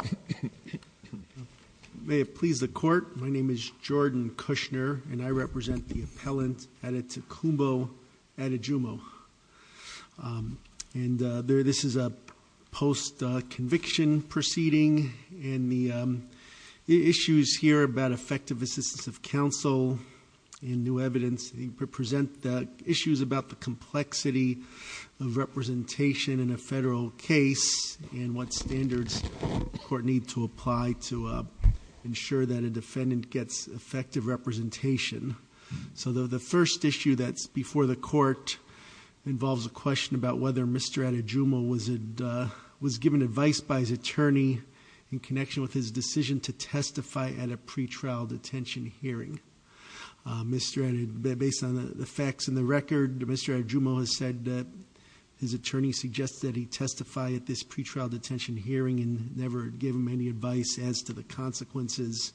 Court of Appeal. May it please the court, my name is Jordan Kushner and I represent the appellant Adetokunbo Adejumo. This is a post conviction proceeding and the issues here about effective assistance of counsel and new evidence represent issues about the complexity of representation in a federal case and what standards the court need to apply to ensure that a defendant gets effective representation. So the first issue that's before the court involves a question about whether Mr. Adejumo was given advice by his attorney in connection with his decision to testify at a pretrial detention hearing. Based on the facts in the record, Mr. Adejumo has said that his attorney suggested he testify at this pretrial detention hearing and never give him any advice as to the consequences.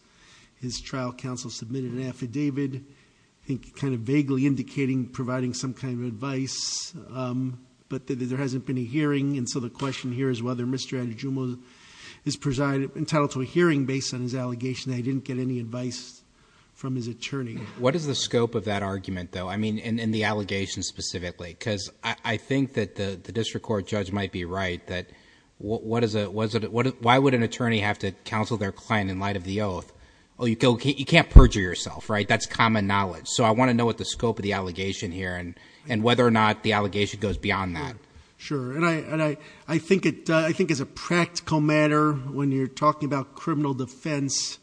His trial counsel submitted an affidavit, I think kind of vaguely indicating providing some kind of advice, but there hasn't been a hearing and so the question here is whether Mr. Adejumo is entitled to a hearing based on his allegation that he didn't get any advice from his attorney. What is the scope of that argument though? I mean in the allegation specifically because I think that the district court judge might be right that what is it, why would an attorney have to counsel their client in light of the oath? Oh, you can't perjure yourself, right? That's common knowledge. So I want to know what the scope of the allegation here and whether or not the allegation goes beyond that. Sure. And I think it's a practical matter when you're talking about criminal defense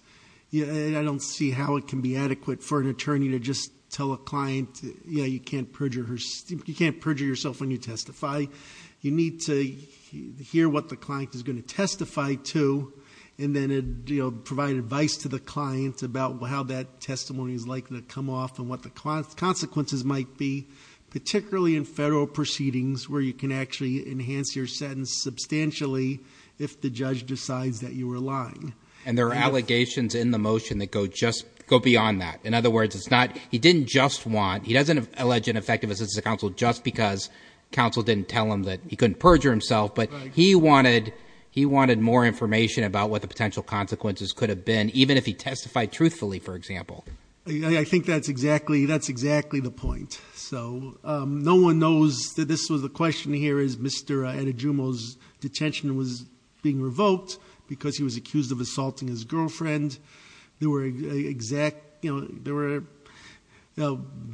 and I don't see how it can be adequate for an attorney to just tell a client, yeah, you can't perjure yourself when you testify. You need to hear what the client is going to testify to and then provide advice to the client about how that testimony is likely to come off and what the consequences might be, particularly in federal proceedings where you can actually enhance your sentence substantially if the judge decides that you were lying. And there are allegations in the motion that go just, go beyond that. In other words, it's not, he didn't just want, he doesn't allege an effective assistance to counsel just because counsel didn't tell him that he couldn't perjure himself, but he wanted, he wanted more information about what the potential consequences could have been even if he testified truthfully, for example. I think that's exactly, that's exactly the point. So no one knows that this was the question here is Mr. Adejumo's detention was being assaulted, his girlfriend, there were exact, you know, there were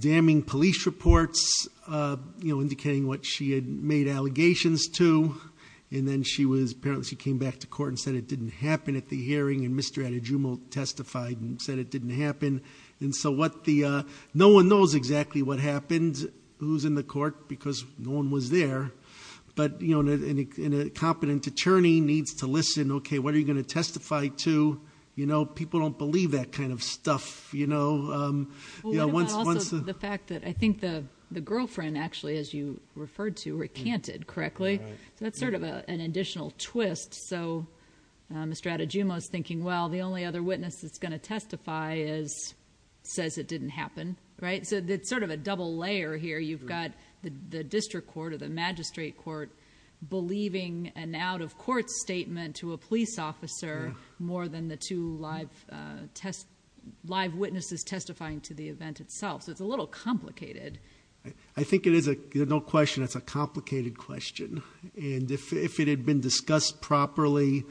damning police reports, you know, indicating what she had made allegations to, and then she was, apparently she came back to court and said it didn't happen at the hearing and Mr. Adejumo testified and said it didn't happen. And so what the, no one knows exactly what happened, who's in the court, because no one was there. But, you know, and a competent attorney needs to listen, okay, what are you going to testify to? You know, people don't believe that kind of stuff, you know, um, you know, once, once... But also the fact that I think the, the girlfriend actually, as you referred to, recanted correctly. So that's sort of an additional twist. So Mr. Adejumo's thinking, well, the only other witness that's going to testify is, says it didn't happen, right? So it's sort of a double layer here. You've got the district court or the magistrate court believing an out-of-court statement to a police officer more than the two live, uh, test, live witnesses testifying to the event itself. So it's a little complicated. I think it is a, no question, it's a complicated question. And if, if it had been discussed properly,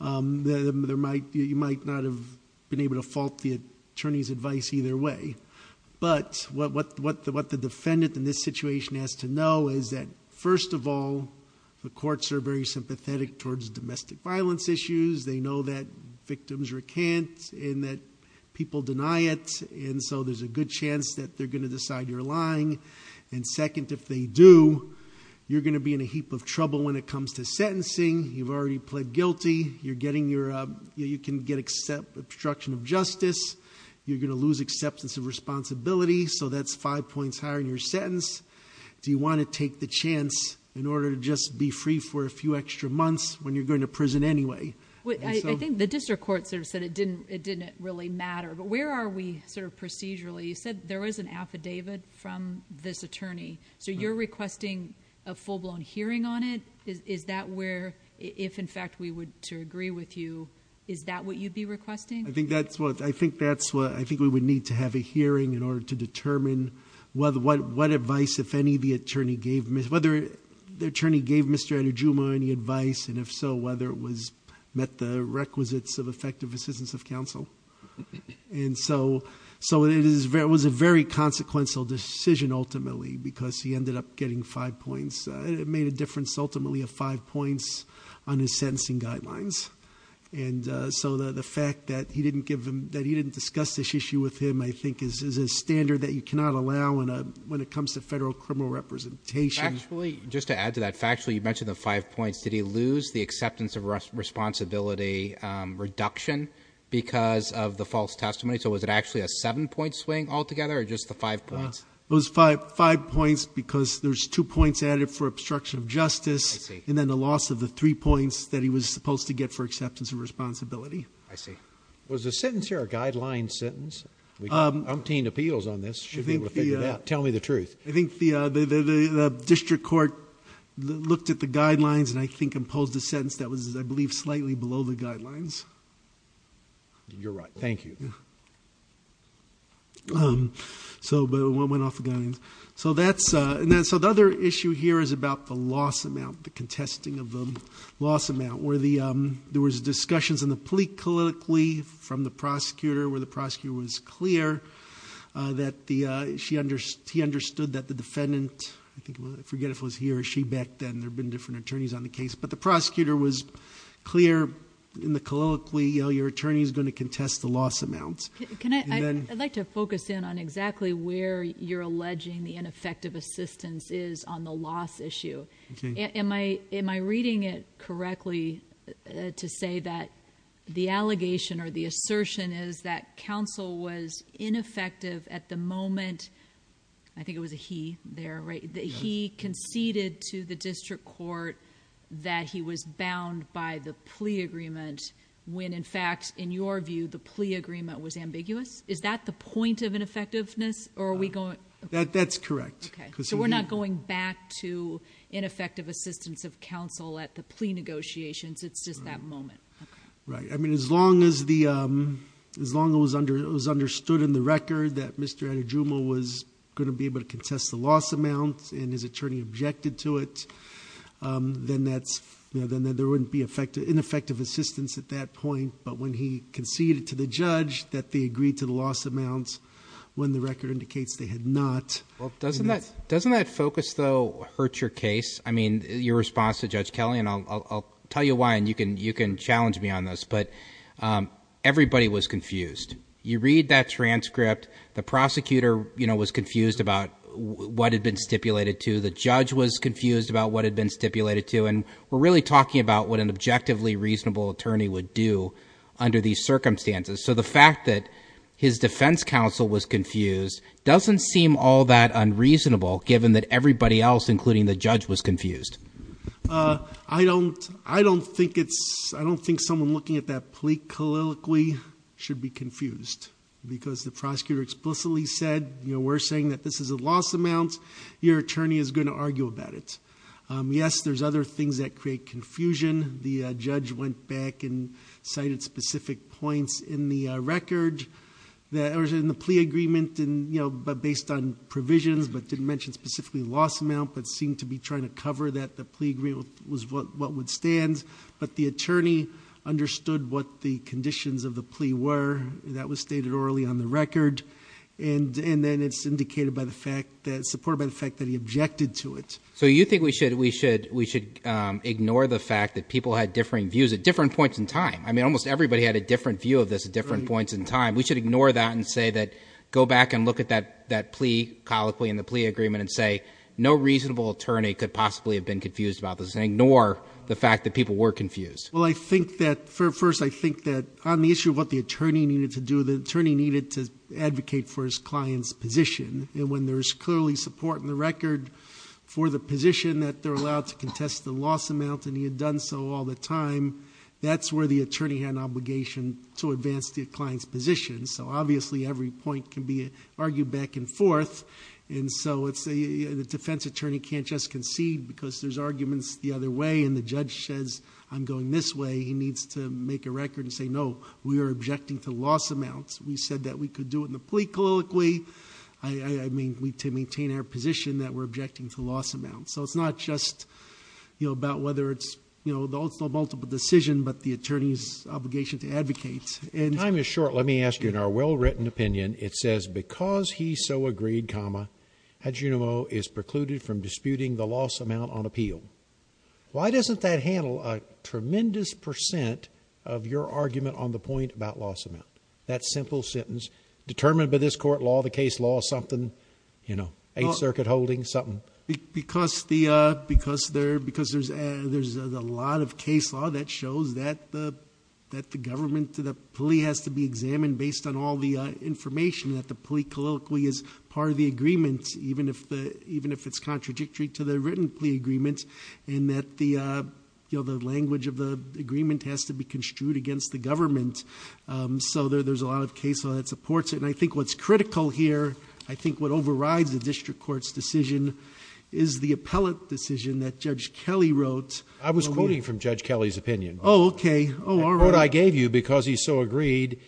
um, there might, you might not have been able to fault the attorney's advice either way. But what, what, what the, what the defendant in this situation has to know is that first of all, the courts are very sympathetic towards domestic violence issues. They know that victims recant and that people deny it. And so there's a good chance that they're going to decide you're lying. And second, if they do, you're going to be in a heap of trouble when it comes to sentencing. You've already pled guilty. You're getting your, uh, you can get except obstruction of justice. You're going to lose acceptance of responsibility. So that's five points higher in your sentence. Do you want to take the chance in order to just be free for a few extra months when you're going to prison anyway? I think the district court sort of said it didn't, it didn't really matter, but where are we sort of procedurally, you said there was an affidavit from this attorney, so you're requesting a full blown hearing on it. Is that where, if in fact we would to agree with you, is that what you'd be requesting? I think that's what, I think that's what, I think we would need to have a hearing in order to determine what advice, if any, the attorney gave, whether the attorney gave Mr. Anujuma any advice, and if so, whether it was met the requisites of effective assistance of counsel. And so, it was a very consequential decision ultimately, because he ended up getting five points. It made a difference ultimately of five points on his sentencing guidelines. And so, the fact that he didn't discuss this issue with him, I think, is a standard that you cannot allow when it comes to federal criminal representation. Actually, just to add to that, factually, you mentioned the five points. Did he lose the acceptance of responsibility reduction because of the false testimony? So, was it actually a seven point swing altogether, or just the five points? It was five points, because there's two points added for obstruction of justice, and then the loss of the three points that he was supposed to get for acceptance of responsibility. I see. Was the sentence here a guideline sentence? We've obtained appeals on this, should be able to figure it out. Tell me the truth. I think the district court looked at the guidelines and I think imposed a sentence that was, I believe, slightly below the guidelines. You're right, thank you. So, but it went off the guidelines. So, the other issue here is about the loss amount, the contesting of the loss amount. Where there was discussions in the plea colloquially from the prosecutor, where the prosecutor was clear that he understood that the defendant, I forget if it was he or she back then, there have been different attorneys on the case. But the prosecutor was clear in the colloquially, your attorney's going to contest the loss amount. I'd like to focus in on exactly where you're alleging the ineffective assistance is on the loss issue. Am I reading it correctly to say that the allegation or the assertion is that counsel was ineffective at the moment, I think it was a he there, right? He conceded to the district court that he was bound by the plea agreement. When in fact, in your view, the plea agreement was ambiguous? Is that the point of ineffectiveness, or are we going- That's correct. Okay, so we're not going back to ineffective assistance of counsel at the plea negotiations, it's just that moment. Right, I mean, as long as it was understood in the record that Mr. Adejumo was going to be able to contest the loss amount, and his attorney objected to it, then there wouldn't be ineffective assistance at that point. But when he conceded to the judge that they agreed to the loss amounts, when the record indicates they had not. Well, doesn't that focus, though, hurt your case? I mean, your response to Judge Kelly, and I'll tell you why, and you can challenge me on this, but everybody was confused. You read that transcript, the prosecutor was confused about what had been stipulated to. The judge was confused about what had been stipulated to, and we're really talking about what an objectively reasonable attorney would do under these circumstances. So the fact that his defense counsel was confused doesn't seem all that unreasonable, given that everybody else, including the judge, was confused. I don't think someone looking at that plea colloquially should be confused, because the prosecutor explicitly said, we're saying that this is a loss amount, your attorney is going to argue about it. Yes, there's other things that create confusion. The judge went back and cited specific points in the record, that are in the plea agreement, but based on provisions, but didn't mention specifically loss amount, but seemed to be trying to cover that the plea agreement was what would stand. But the attorney understood what the conditions of the plea were, that was stated orally on the record. And then it's indicated by the fact that, supported by the fact that he objected to it. So you think we should ignore the fact that people had differing views at different points in time. I mean, almost everybody had a different view of this at different points in time. We should ignore that and say that, go back and look at that plea colloquially in the plea agreement and say, no reasonable attorney could possibly have been confused about this thing, nor the fact that people were confused. Well, I think that, first I think that on the issue of what the attorney needed to do, the attorney needed to advocate for his client's position. And when there's clearly support in the record for the position that they're allowed to contest the loss amount, and he had done so all the time. That's where the attorney had an obligation to advance the client's position. So obviously, every point can be argued back and forth. And so, the defense attorney can't just concede because there's arguments the other way. And the judge says, I'm going this way, he needs to make a record and say, no, we are objecting to loss amounts. We said that we could do it in the plea colloquy, I mean, to maintain our position that we're objecting to loss amounts. So it's not just about whether it's the ultimate multiple decision, but the attorney's obligation to advocate. Time is short, let me ask you, in our well-written opinion, it says, because he so agreed, comma, Adjunimo is precluded from disputing the loss amount on appeal. Why doesn't that handle a tremendous percent of your argument on the point about loss amount? That simple sentence, determined by this court law, the case law, something, you know, Eighth Circuit holding, something. Because there's a lot of case law that shows that the government, the plea has to be examined based on all the information. That the plea colloquy is part of the agreement, even if it's contradictory to the written plea agreement. And that the language of the agreement has to be construed against the government. So there's a lot of case law that supports it. And I think what's critical here, I think what overrides the district court's decision is the appellate decision that Judge Kelly wrote. I was quoting from Judge Kelly's opinion. Okay, all right. The quote I gave you, because he so agreed,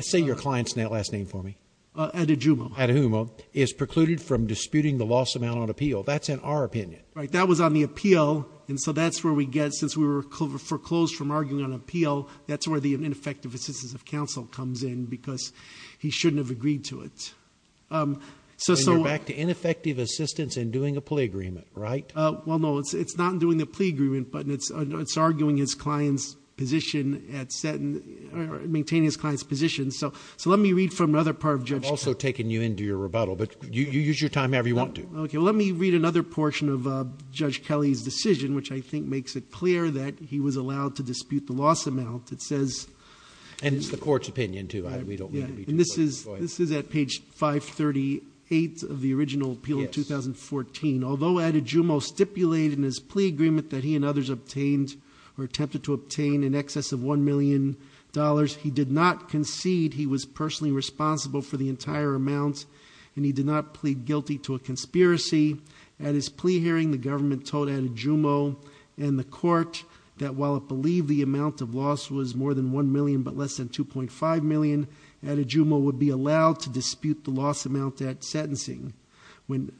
say your client's last name for me. Adjunimo. Adjunimo, is precluded from disputing the loss amount on appeal. That's in our opinion. Right, that was on the appeal, and so that's where we get, since we were foreclosed from arguing on appeal, that's where the ineffective assistance of counsel comes in, because he shouldn't have agreed to it. So- Back to ineffective assistance in doing a plea agreement, right? Well, no, it's not doing the plea agreement, but it's arguing his client's position at set and maintaining his client's position. So let me read from another part of Judge- I'm also taking you into your rebuttal, but you use your time however you want to. Okay, well let me read another portion of Judge Kelly's decision, which I think makes it clear that he was allowed to dispute the loss amount. It says- And it's the court's opinion, too, we don't need to be- Yeah, and this is at page 538 of the original appeal in 2014. Although Adjunimo stipulated in his plea agreement that he and others obtained or attempted to obtain in excess of $1 million, he did not concede he was personally responsible for the entire amount, and he did not plead guilty to a conspiracy. At his plea hearing, the government told Adjunimo and the court that while it believed the amount of loss was more than $1 million but less than $2.5 million, Adjunimo would be allowed to dispute the loss amount at sentencing. When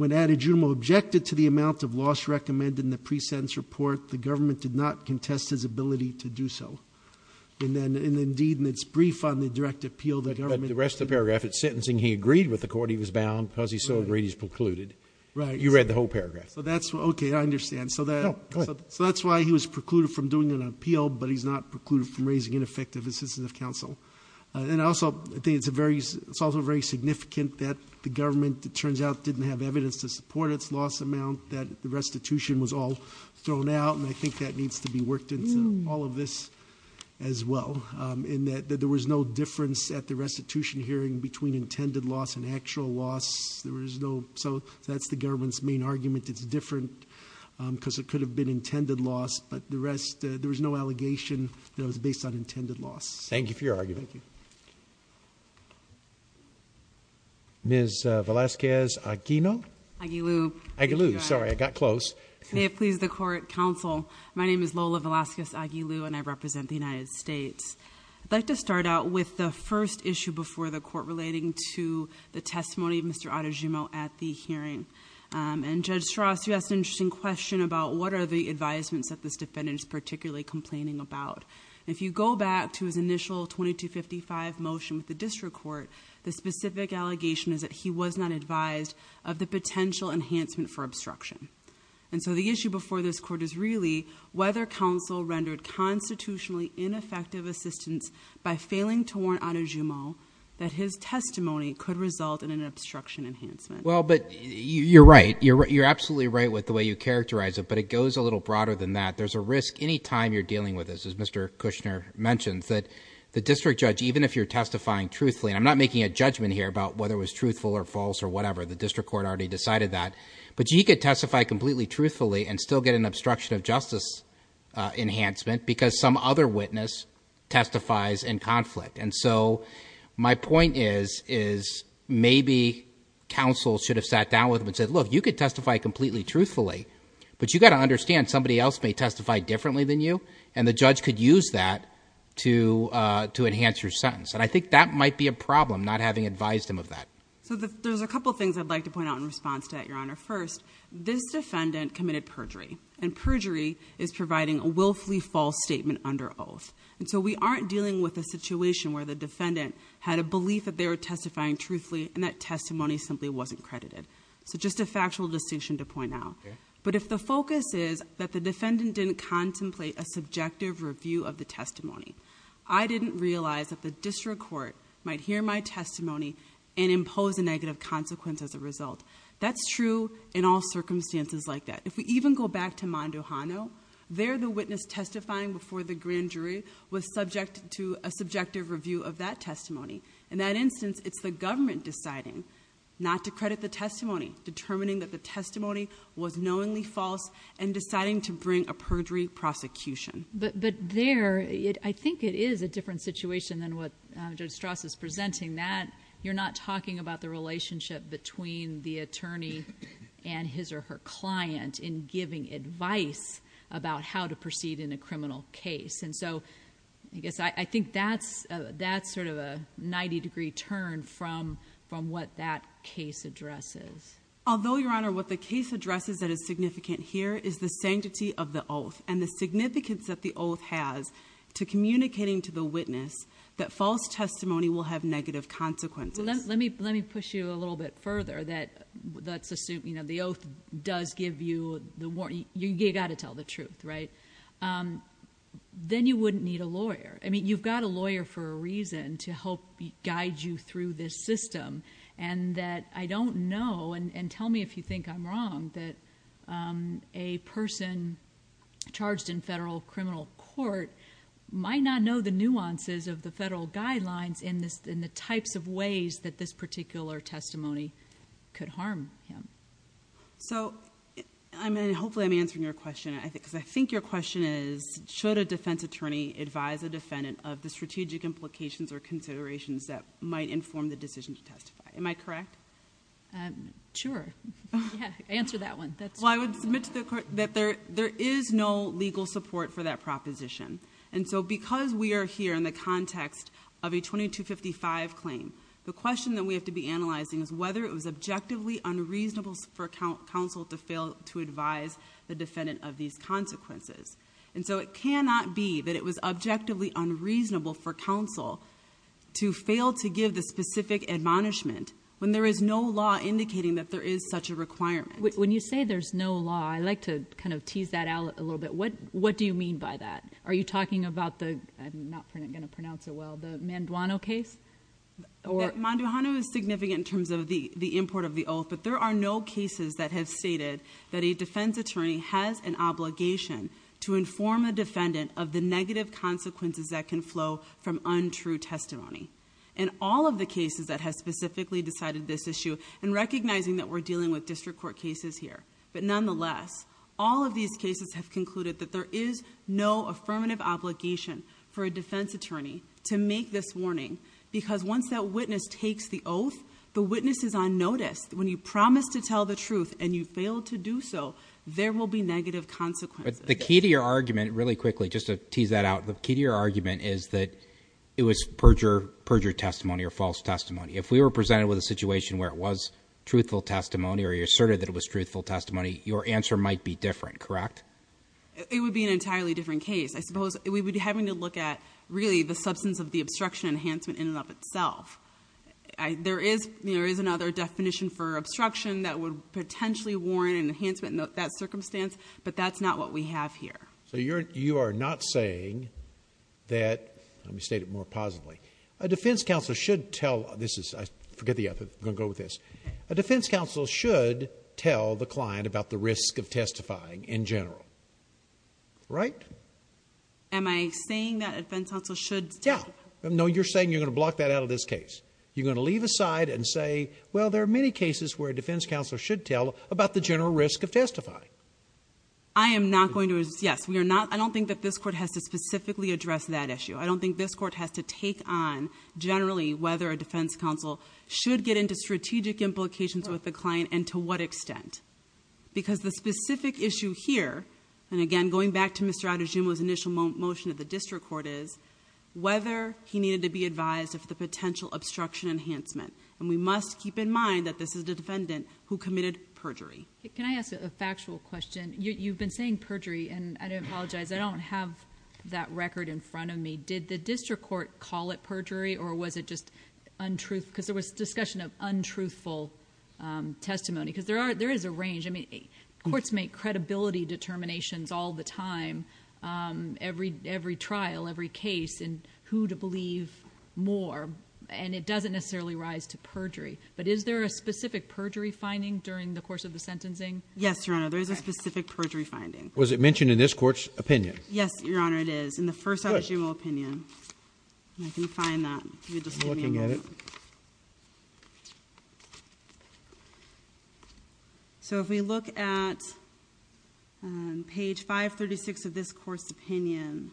Adjunimo objected to the amount of loss recommended in the pre-sentence report, the government did not contest his ability to do so. And then, indeed, in its brief on the direct appeal, the government- The rest of the paragraph, it's sentencing. He agreed with the court he was bound because he so agreed he was precluded. Right. You read the whole paragraph. So that's, okay, I understand. So that's why he was precluded from doing an appeal, but he's not precluded from raising ineffective assistance of counsel. And also, I think it's also very significant that the government, it turns out, didn't have evidence to support its loss amount, that the restitution was all thrown out. And I think that needs to be worked into all of this as well. In that there was no difference at the restitution hearing between intended loss and actual loss. There was no, so that's the government's main argument. It's different because it could have been intended loss, but the rest, there was no allegation that it was based on intended loss. Thank you for your argument. Thank you. Ms. Velasquez-Aguino? Aguilu. Aguilu, sorry, I got close. May it please the court, counsel. My name is Lola Velasquez-Aguilu and I represent the United States. I'd like to start out with the first issue before the court relating to the testimony of Mr. Adejumo at the hearing. And Judge Strauss, you asked an interesting question about what are the advisements that this defendant is particularly complaining about. If you go back to his initial 2255 motion with the district court, the specific allegation is that he was not advised of the potential enhancement for obstruction. And so the issue before this court is really whether counsel rendered constitutionally ineffective assistance by failing to warn Adejumo that his testimony could result in an obstruction enhancement. Well, but you're right. You're absolutely right with the way you characterize it, but it goes a little broader than that. There's a risk any time you're dealing with this, as Mr. Kushner mentions, that the district judge, even if you're testifying truthfully, and I'm not making a judgment here about whether it was truthful or false or whatever, the district court already decided that. But you could testify completely truthfully and still get an obstruction of justice enhancement because some other witness testifies in conflict. And so my point is, is maybe counsel should have sat down with him and said, look, you could testify completely truthfully. But you've got to understand somebody else may testify differently than you, and the judge could use that to enhance your sentence. And I think that might be a problem, not having advised him of that. So there's a couple things I'd like to point out in response to that, Your Honor. First, this defendant committed perjury, and perjury is providing a willfully false statement under oath. And so we aren't dealing with a situation where the defendant had a belief that they were testifying truthfully and that testimony simply wasn't credited. So just a factual distinction to point out. But if the focus is that the defendant didn't contemplate a subjective review of the testimony, I didn't realize that the district court might hear my testimony and impose a negative consequence as a result. That's true in all circumstances like that. If we even go back to Mondo Hano, there the witness testifying before the grand jury was subject to a subjective review of that testimony. In that instance, it's the government deciding not to credit the testimony, determining that the testimony was knowingly false, and deciding to bring a perjury prosecution. But there, I think it is a different situation than what Judge Strauss is presenting. That you're not talking about the relationship between the attorney and his or her client in giving advice about how to proceed in a criminal case. And so I guess I think that's sort of a 90 degree turn from what that case addresses. Although, Your Honor, what the case addresses that is significant here is the sanctity of the oath and the significance that the oath has to communicating to the witness that false testimony will have negative consequences. Let me push you a little bit further that the oath does give you the warning. You gotta tell the truth, right? Then you wouldn't need a lawyer. I mean, you've got a lawyer for a reason to help guide you through this system. And that I don't know, and tell me if you think I'm wrong, that a person charged in federal criminal court might not know the nuances of the federal guidelines in the types of ways that this particular testimony could harm him. So, I mean, hopefully I'm answering your question. I think your question is, should a defense attorney advise a defendant of the strategic implications or Am I correct? Sure, yeah, answer that one. Well, I would submit to the court that there is no legal support for that proposition. And so because we are here in the context of a 2255 claim, the question that we have to be analyzing is whether it was objectively unreasonable for counsel to fail to advise the defendant of these consequences. And so it cannot be that it was objectively unreasonable for When there is no law indicating that there is such a requirement. When you say there's no law, I like to kind of tease that out a little bit. What do you mean by that? Are you talking about the, I'm not going to pronounce it well, the Manduano case? Manduano is significant in terms of the import of the oath, but there are no cases that have stated that a defense attorney has an obligation to inform a defendant of the negative consequences that can flow from untrue testimony. In all of the cases that have specifically decided this issue and recognizing that we're dealing with district court cases here. But nonetheless, all of these cases have concluded that there is no affirmative obligation for a defense attorney to make this warning because once that witness takes the oath, the witness is on notice. When you promise to tell the truth and you fail to do so, there will be negative consequences. But the key to your argument, really quickly, just to tease that out. The key to your argument is that it was perjure testimony or false testimony. If we were presented with a situation where it was truthful testimony, or you asserted that it was truthful testimony, your answer might be different, correct? It would be an entirely different case. I suppose we would be having to look at really the substance of the obstruction enhancement in and of itself. There is another definition for obstruction that would potentially warrant an enhancement in that circumstance. But that's not what we have here. So you are not saying that, let me state it more positively. A defense counsel should tell, this is, I forget the other, I'm going to go with this. A defense counsel should tell the client about the risk of testifying in general, right? Am I saying that a defense counsel should- Yeah, no, you're saying you're going to block that out of this case. You're going to leave aside and say, well, there are many cases where a defense counsel should tell about the general risk of testifying. I am not going to, yes, I don't think that this court has to specifically address that issue. I don't think this court has to take on, generally, whether a defense counsel should get into strategic implications with the client and to what extent. Because the specific issue here, and again, going back to Mr. Adejumo's initial motion of the district court is, whether he needed to be advised of the potential obstruction enhancement. And we must keep in mind that this is the defendant who committed perjury. Can I ask a factual question? You've been saying perjury, and I do apologize, I don't have that record in front of me. Did the district court call it perjury, or was it just untruth? Because there was discussion of untruthful testimony, because there is a range. I mean, courts make credibility determinations all the time, every trial, every case, and who to believe more, and it doesn't necessarily rise to perjury. But is there a specific perjury finding during the course of the sentencing? Yes, Your Honor, there is a specific perjury finding. Was it mentioned in this court's opinion? Yes, Your Honor, it is. In the first Adejumo opinion, and I can find that, if you would just give me a moment. I'm looking at it. So if we look at page 536 of this court's opinion,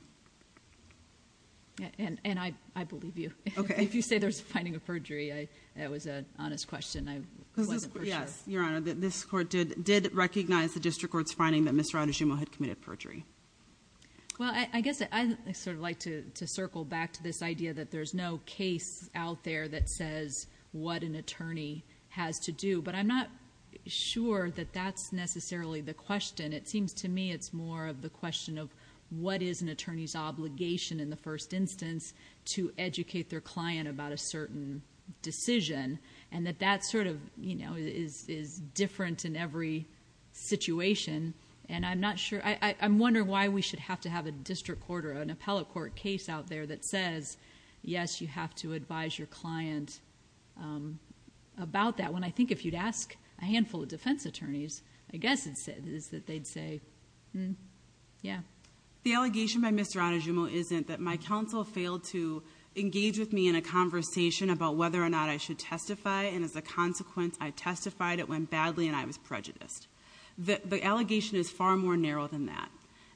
and I believe you. If you say there's a finding of perjury, that was an honest question, I wasn't for sure. Yes, Your Honor, this court did recognize the district court's finding that Mr. Adejumo had committed perjury. Well, I guess I sort of like to circle back to this idea that there's no case out there that says what an attorney has to do, but I'm not sure that that's necessarily the question. It seems to me it's more of the question of what is an attorney's obligation in the first instance to educate their client about a certain decision, and that that sort of is different in every situation, and I'm not sure... I'm wondering why we should have to have a district court or an appellate court case out there that says, yes, you have to advise your client about that, when I think if you'd ask a handful of defense attorneys, I guess it's that they'd say, yeah. The allegation by Mr. Adejumo isn't that my counsel failed to engage with me in a conversation about whether or not I should testify, and as a consequence, I testified, it went badly, and I was prejudiced. The allegation is far more narrow than that,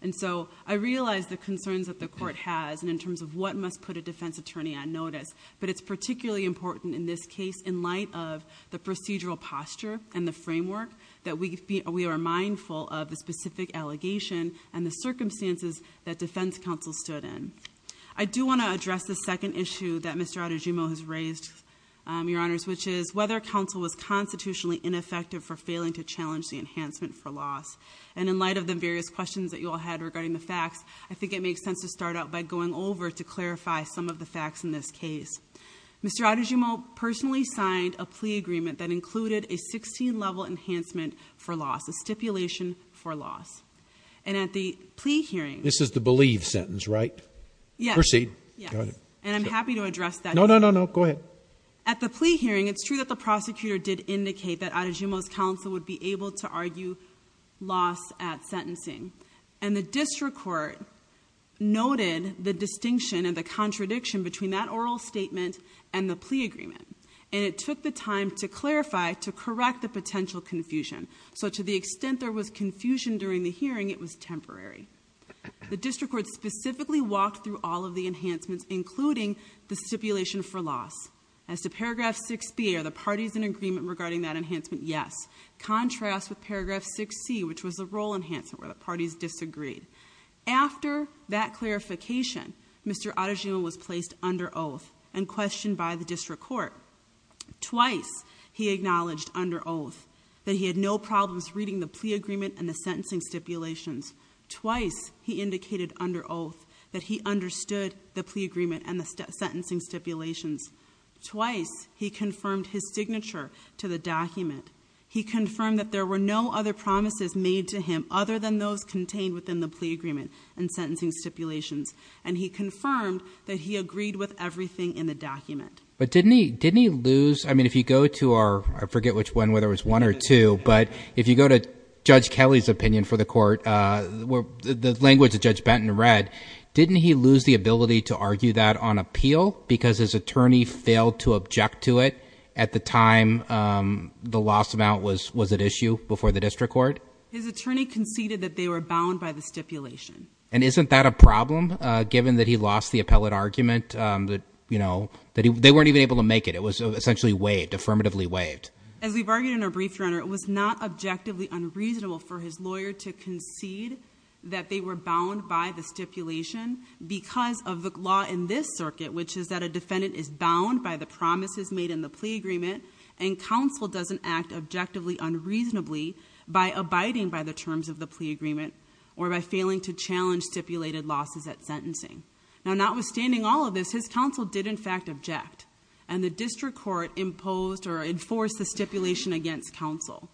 and so I realize the concerns that the court has, and in terms of what must put a defense attorney on notice, but it's particularly important in this case in light of the procedural posture and the framework that we are mindful of the specific allegation and the circumstances that defense counsel stood in. I do want to address the second issue that Mr. Adejumo has raised, your honors, which is whether counsel was constitutionally ineffective for failing to challenge the enhancement for loss, and in light of the various questions that you all had regarding the facts, I think it makes sense to start out by going over to clarify some of the facts in this case. Mr. Adejumo personally signed a plea agreement that included a 16-level enhancement for loss, a stipulation for loss, and at the plea hearing, this is the believe sentence, right? Yes. Proceed. Yes, and I'm happy to address that. No, no, no, no, go ahead. At the plea hearing, it's true that the prosecutor did indicate that Adejumo's counsel would be able to argue loss at sentencing, and the district court noted the distinction and the contradiction between that oral statement and the plea agreement, and it took the time to clarify to correct the potential confusion, so to the extent there was confusion during the hearing, it was temporary. The district court specifically walked through all of the enhancements, including the stipulation for loss. As to paragraph 6b, are the parties in agreement regarding that enhancement? Yes. Contrast with paragraph 6c, which was the role enhancement, where the parties disagreed. After that clarification, Mr. Adejumo was placed under oath and questioned by the district court. Twice, he acknowledged under oath that he had no problems reading the plea agreement and the sentencing stipulations. Twice, he indicated under oath that he understood the plea agreement and the sentencing stipulations. Twice, he confirmed his signature to the document. He confirmed that there were no other promises made to him other than those contained within the plea agreement and sentencing stipulations, and he confirmed that he agreed with everything in the document. But didn't he, didn't he lose, I mean, if you go to our, I forget which one, whether it was one or two, but if you go to Judge Kelly's opinion for the court, the language that Judge Benton read, didn't he lose the ability to argue that on appeal because his attorney failed to object to it at the time the loss amount was at issue before the district court? His attorney conceded that they were bound by the stipulation. And isn't that a problem, given that he lost the appellate argument that, you know, that they weren't even able to make it? It was essentially waived, affirmatively waived. As we've argued in our brief, your honor, it was not objectively unreasonable for his lawyer to concede that they were bound by the stipulation because of the law in this circuit, which is that defendant is bound by the promises made in the plea agreement and counsel doesn't act objectively, unreasonably by abiding by the terms of the plea agreement or by failing to challenge stipulated losses at sentencing. Now, notwithstanding all of this, his counsel did in fact object and the district court imposed or enforced the stipulation against counsel.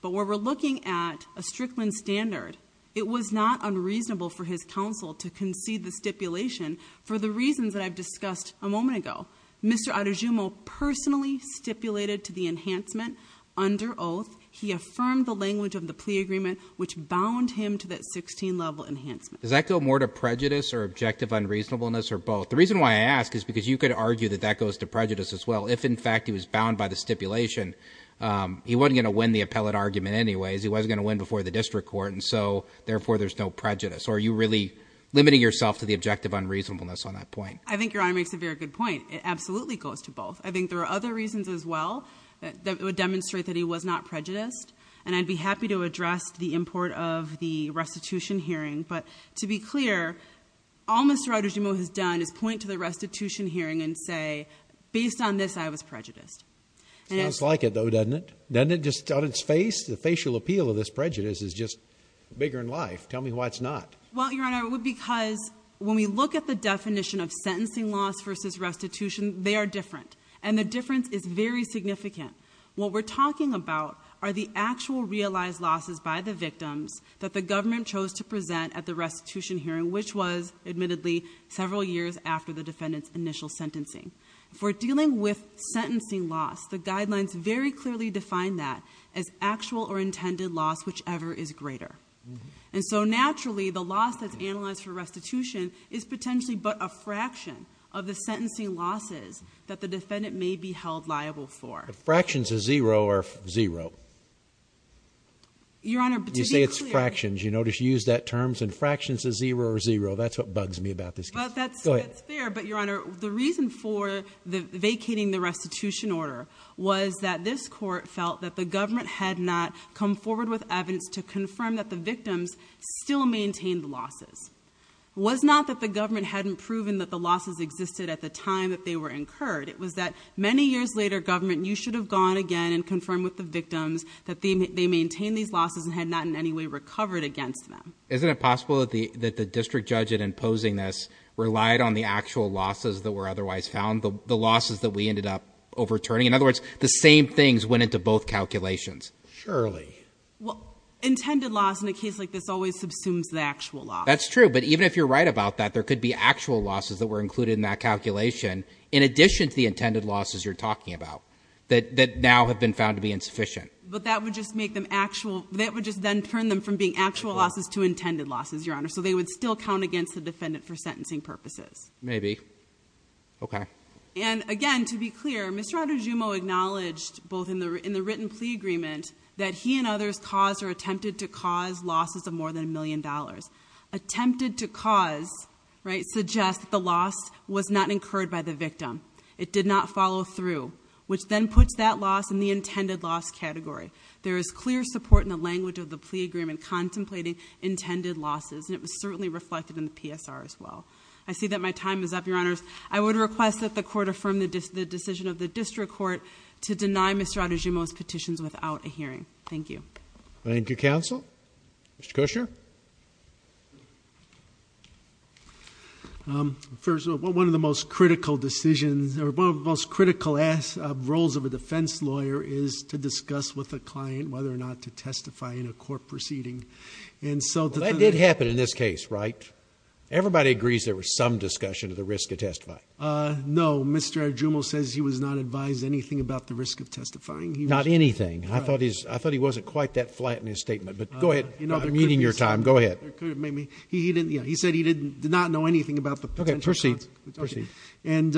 But where we're looking at a Strickland standard, it was not unreasonable for his counsel to concede the stipulation for the reasons that I've discussed a moment ago. Mr. Adejumo personally stipulated to the enhancement under oath. He affirmed the language of the plea agreement, which bound him to that 16 level enhancement. Does that go more to prejudice or objective unreasonableness or both? The reason why I ask is because you could argue that that goes to prejudice as well. If in fact he was bound by the stipulation, he wasn't going to win the appellate argument anyways. He wasn't going to win before the district court and so therefore there's no prejudice. Are you really limiting yourself to the objective unreasonableness on that point? I think your honor makes a very good point. It absolutely goes to both. I think there are other reasons as well that would demonstrate that he was not prejudiced and I'd be happy to address the import of the restitution hearing, but to be clear, all Mr. Adejumo has done is point to the restitution hearing and say, based on this, I was prejudiced. Sounds like it though, doesn't it? Doesn't it just on its face? The facial appeal of this prejudice is just bigger in life. Tell me why it's not. Well, because when we look at the definition of sentencing loss versus restitution, they are different and the difference is very significant. What we're talking about are the actual realized losses by the victims that the government chose to present at the restitution hearing, which was, admittedly, several years after the defendant's initial sentencing. If we're dealing with sentencing loss, the guidelines very clearly define that as actual or intended loss, whichever is greater. Naturally, the loss that's analyzed for restitution is potentially but a fraction of the sentencing losses that the defendant may be held liable for. Fractions of zero or zero? Your Honor, to be clear- You say it's fractions. You know, just use that terms and fractions of zero or zero. That's what bugs me about this case. Go ahead. That's fair, but Your Honor, the reason for vacating the restitution order was that this court felt that the government had not come forward with evidence to confirm that the victims still maintained the losses. It was not that the government hadn't proven that the losses existed at the time that they were incurred. It was that many years later, government, you should have gone again and confirmed with the victims that they maintained these losses and had not in any way recovered against them. Isn't it possible that the district judge, in imposing this, relied on the actual losses that were otherwise found, the losses that we ended up overturning? In other words, the same things went into both calculations. Surely. Well, intended loss in a case like this always subsumes the actual loss. That's true. But even if you're right about that, there could be actual losses that were included in that calculation in addition to the intended losses you're talking about that now have been found to be insufficient. But that would just make them actual, that would just then turn them from being actual losses to intended losses, Your Honor. So they would still count against the defendant for sentencing purposes. Maybe. Okay. And again, to be clear, Mr. Andujumo acknowledged, both in the written plea agreement, that he and others caused or attempted to cause losses of more than a million dollars. Attempted to cause, right, suggests that the loss was not incurred by the victim. It did not follow through, which then puts that loss in the intended loss category. There is clear support in the language of the plea agreement contemplating intended losses, and it was certainly reflected in the PSR as well. I see that my time is up, Your Honors. I would request that the court affirm the decision of the district court to deny Mr. Andujumo's petitions without a hearing. Thank you. Thank you, counsel. Mr. Kushner. First of all, one of the most critical decisions, or one of the most critical roles of a defense lawyer is to discuss with a client whether or not to testify in a court proceeding. That did happen in this case, right? Everybody agrees there was some discussion of the risk of testifying. No, Mr. Andujumo says he was not advised anything about the risk of testifying. Not anything. I thought he wasn't quite that flat in his statement, but go ahead. I'm needing your time. Go ahead. He said he did not know anything about the potential consequences. Okay. Proceed. Proceed. And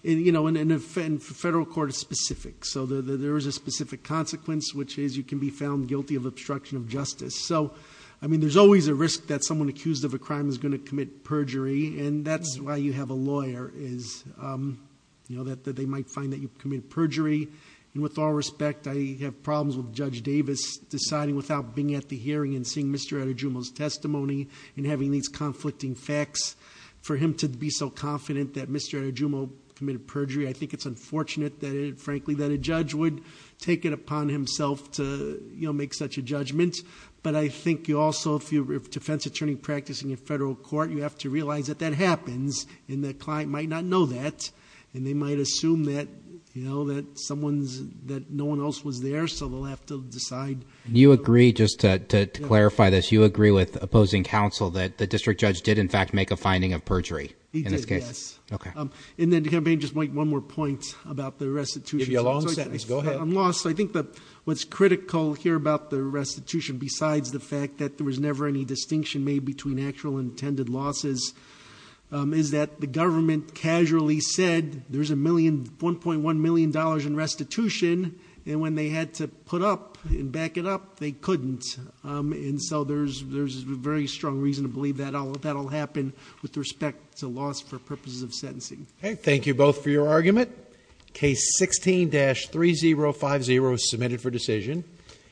the federal court is specific, so there is a specific consequence, which is you can be found guilty of obstruction of justice. So, I mean, there's always a risk that someone accused of a crime is going to commit perjury, and that's why you have a lawyer, is that they might find that you've committed perjury. And with all respect, I have problems with Judge Davis deciding without being at the hearing and seeing Mr. Andujumo's testimony and having these conflicting facts for him to be so confident that Mr. Andujumo committed perjury. I think it's unfortunate that, frankly, that a judge would take it upon himself to make such a judgment. But I think you also, if you're a defense attorney practicing in federal court, you have to realize that that happens, and the client might not know that, and they might assume that no one else was there, so they'll have to decide. Do you agree, just to clarify this, you agree with opposing counsel that the district judge did, in fact, make a finding of perjury? He did, yes. In this case? Okay. And then to kind of make just one more point about the restitution. Give you a long sentence. Go ahead. I'm lost. I think what's critical here about the restitution, besides the fact that there was never any distinction made between actual and intended losses, is that the government casually said there's $1.1 million in restitution, and when they had to put up and back it up, they couldn't. And so there's a very strong reason to believe that that'll happen with respect to loss for purposes of sentencing. Thank you both for your argument. Case 16-3050 is submitted for decision.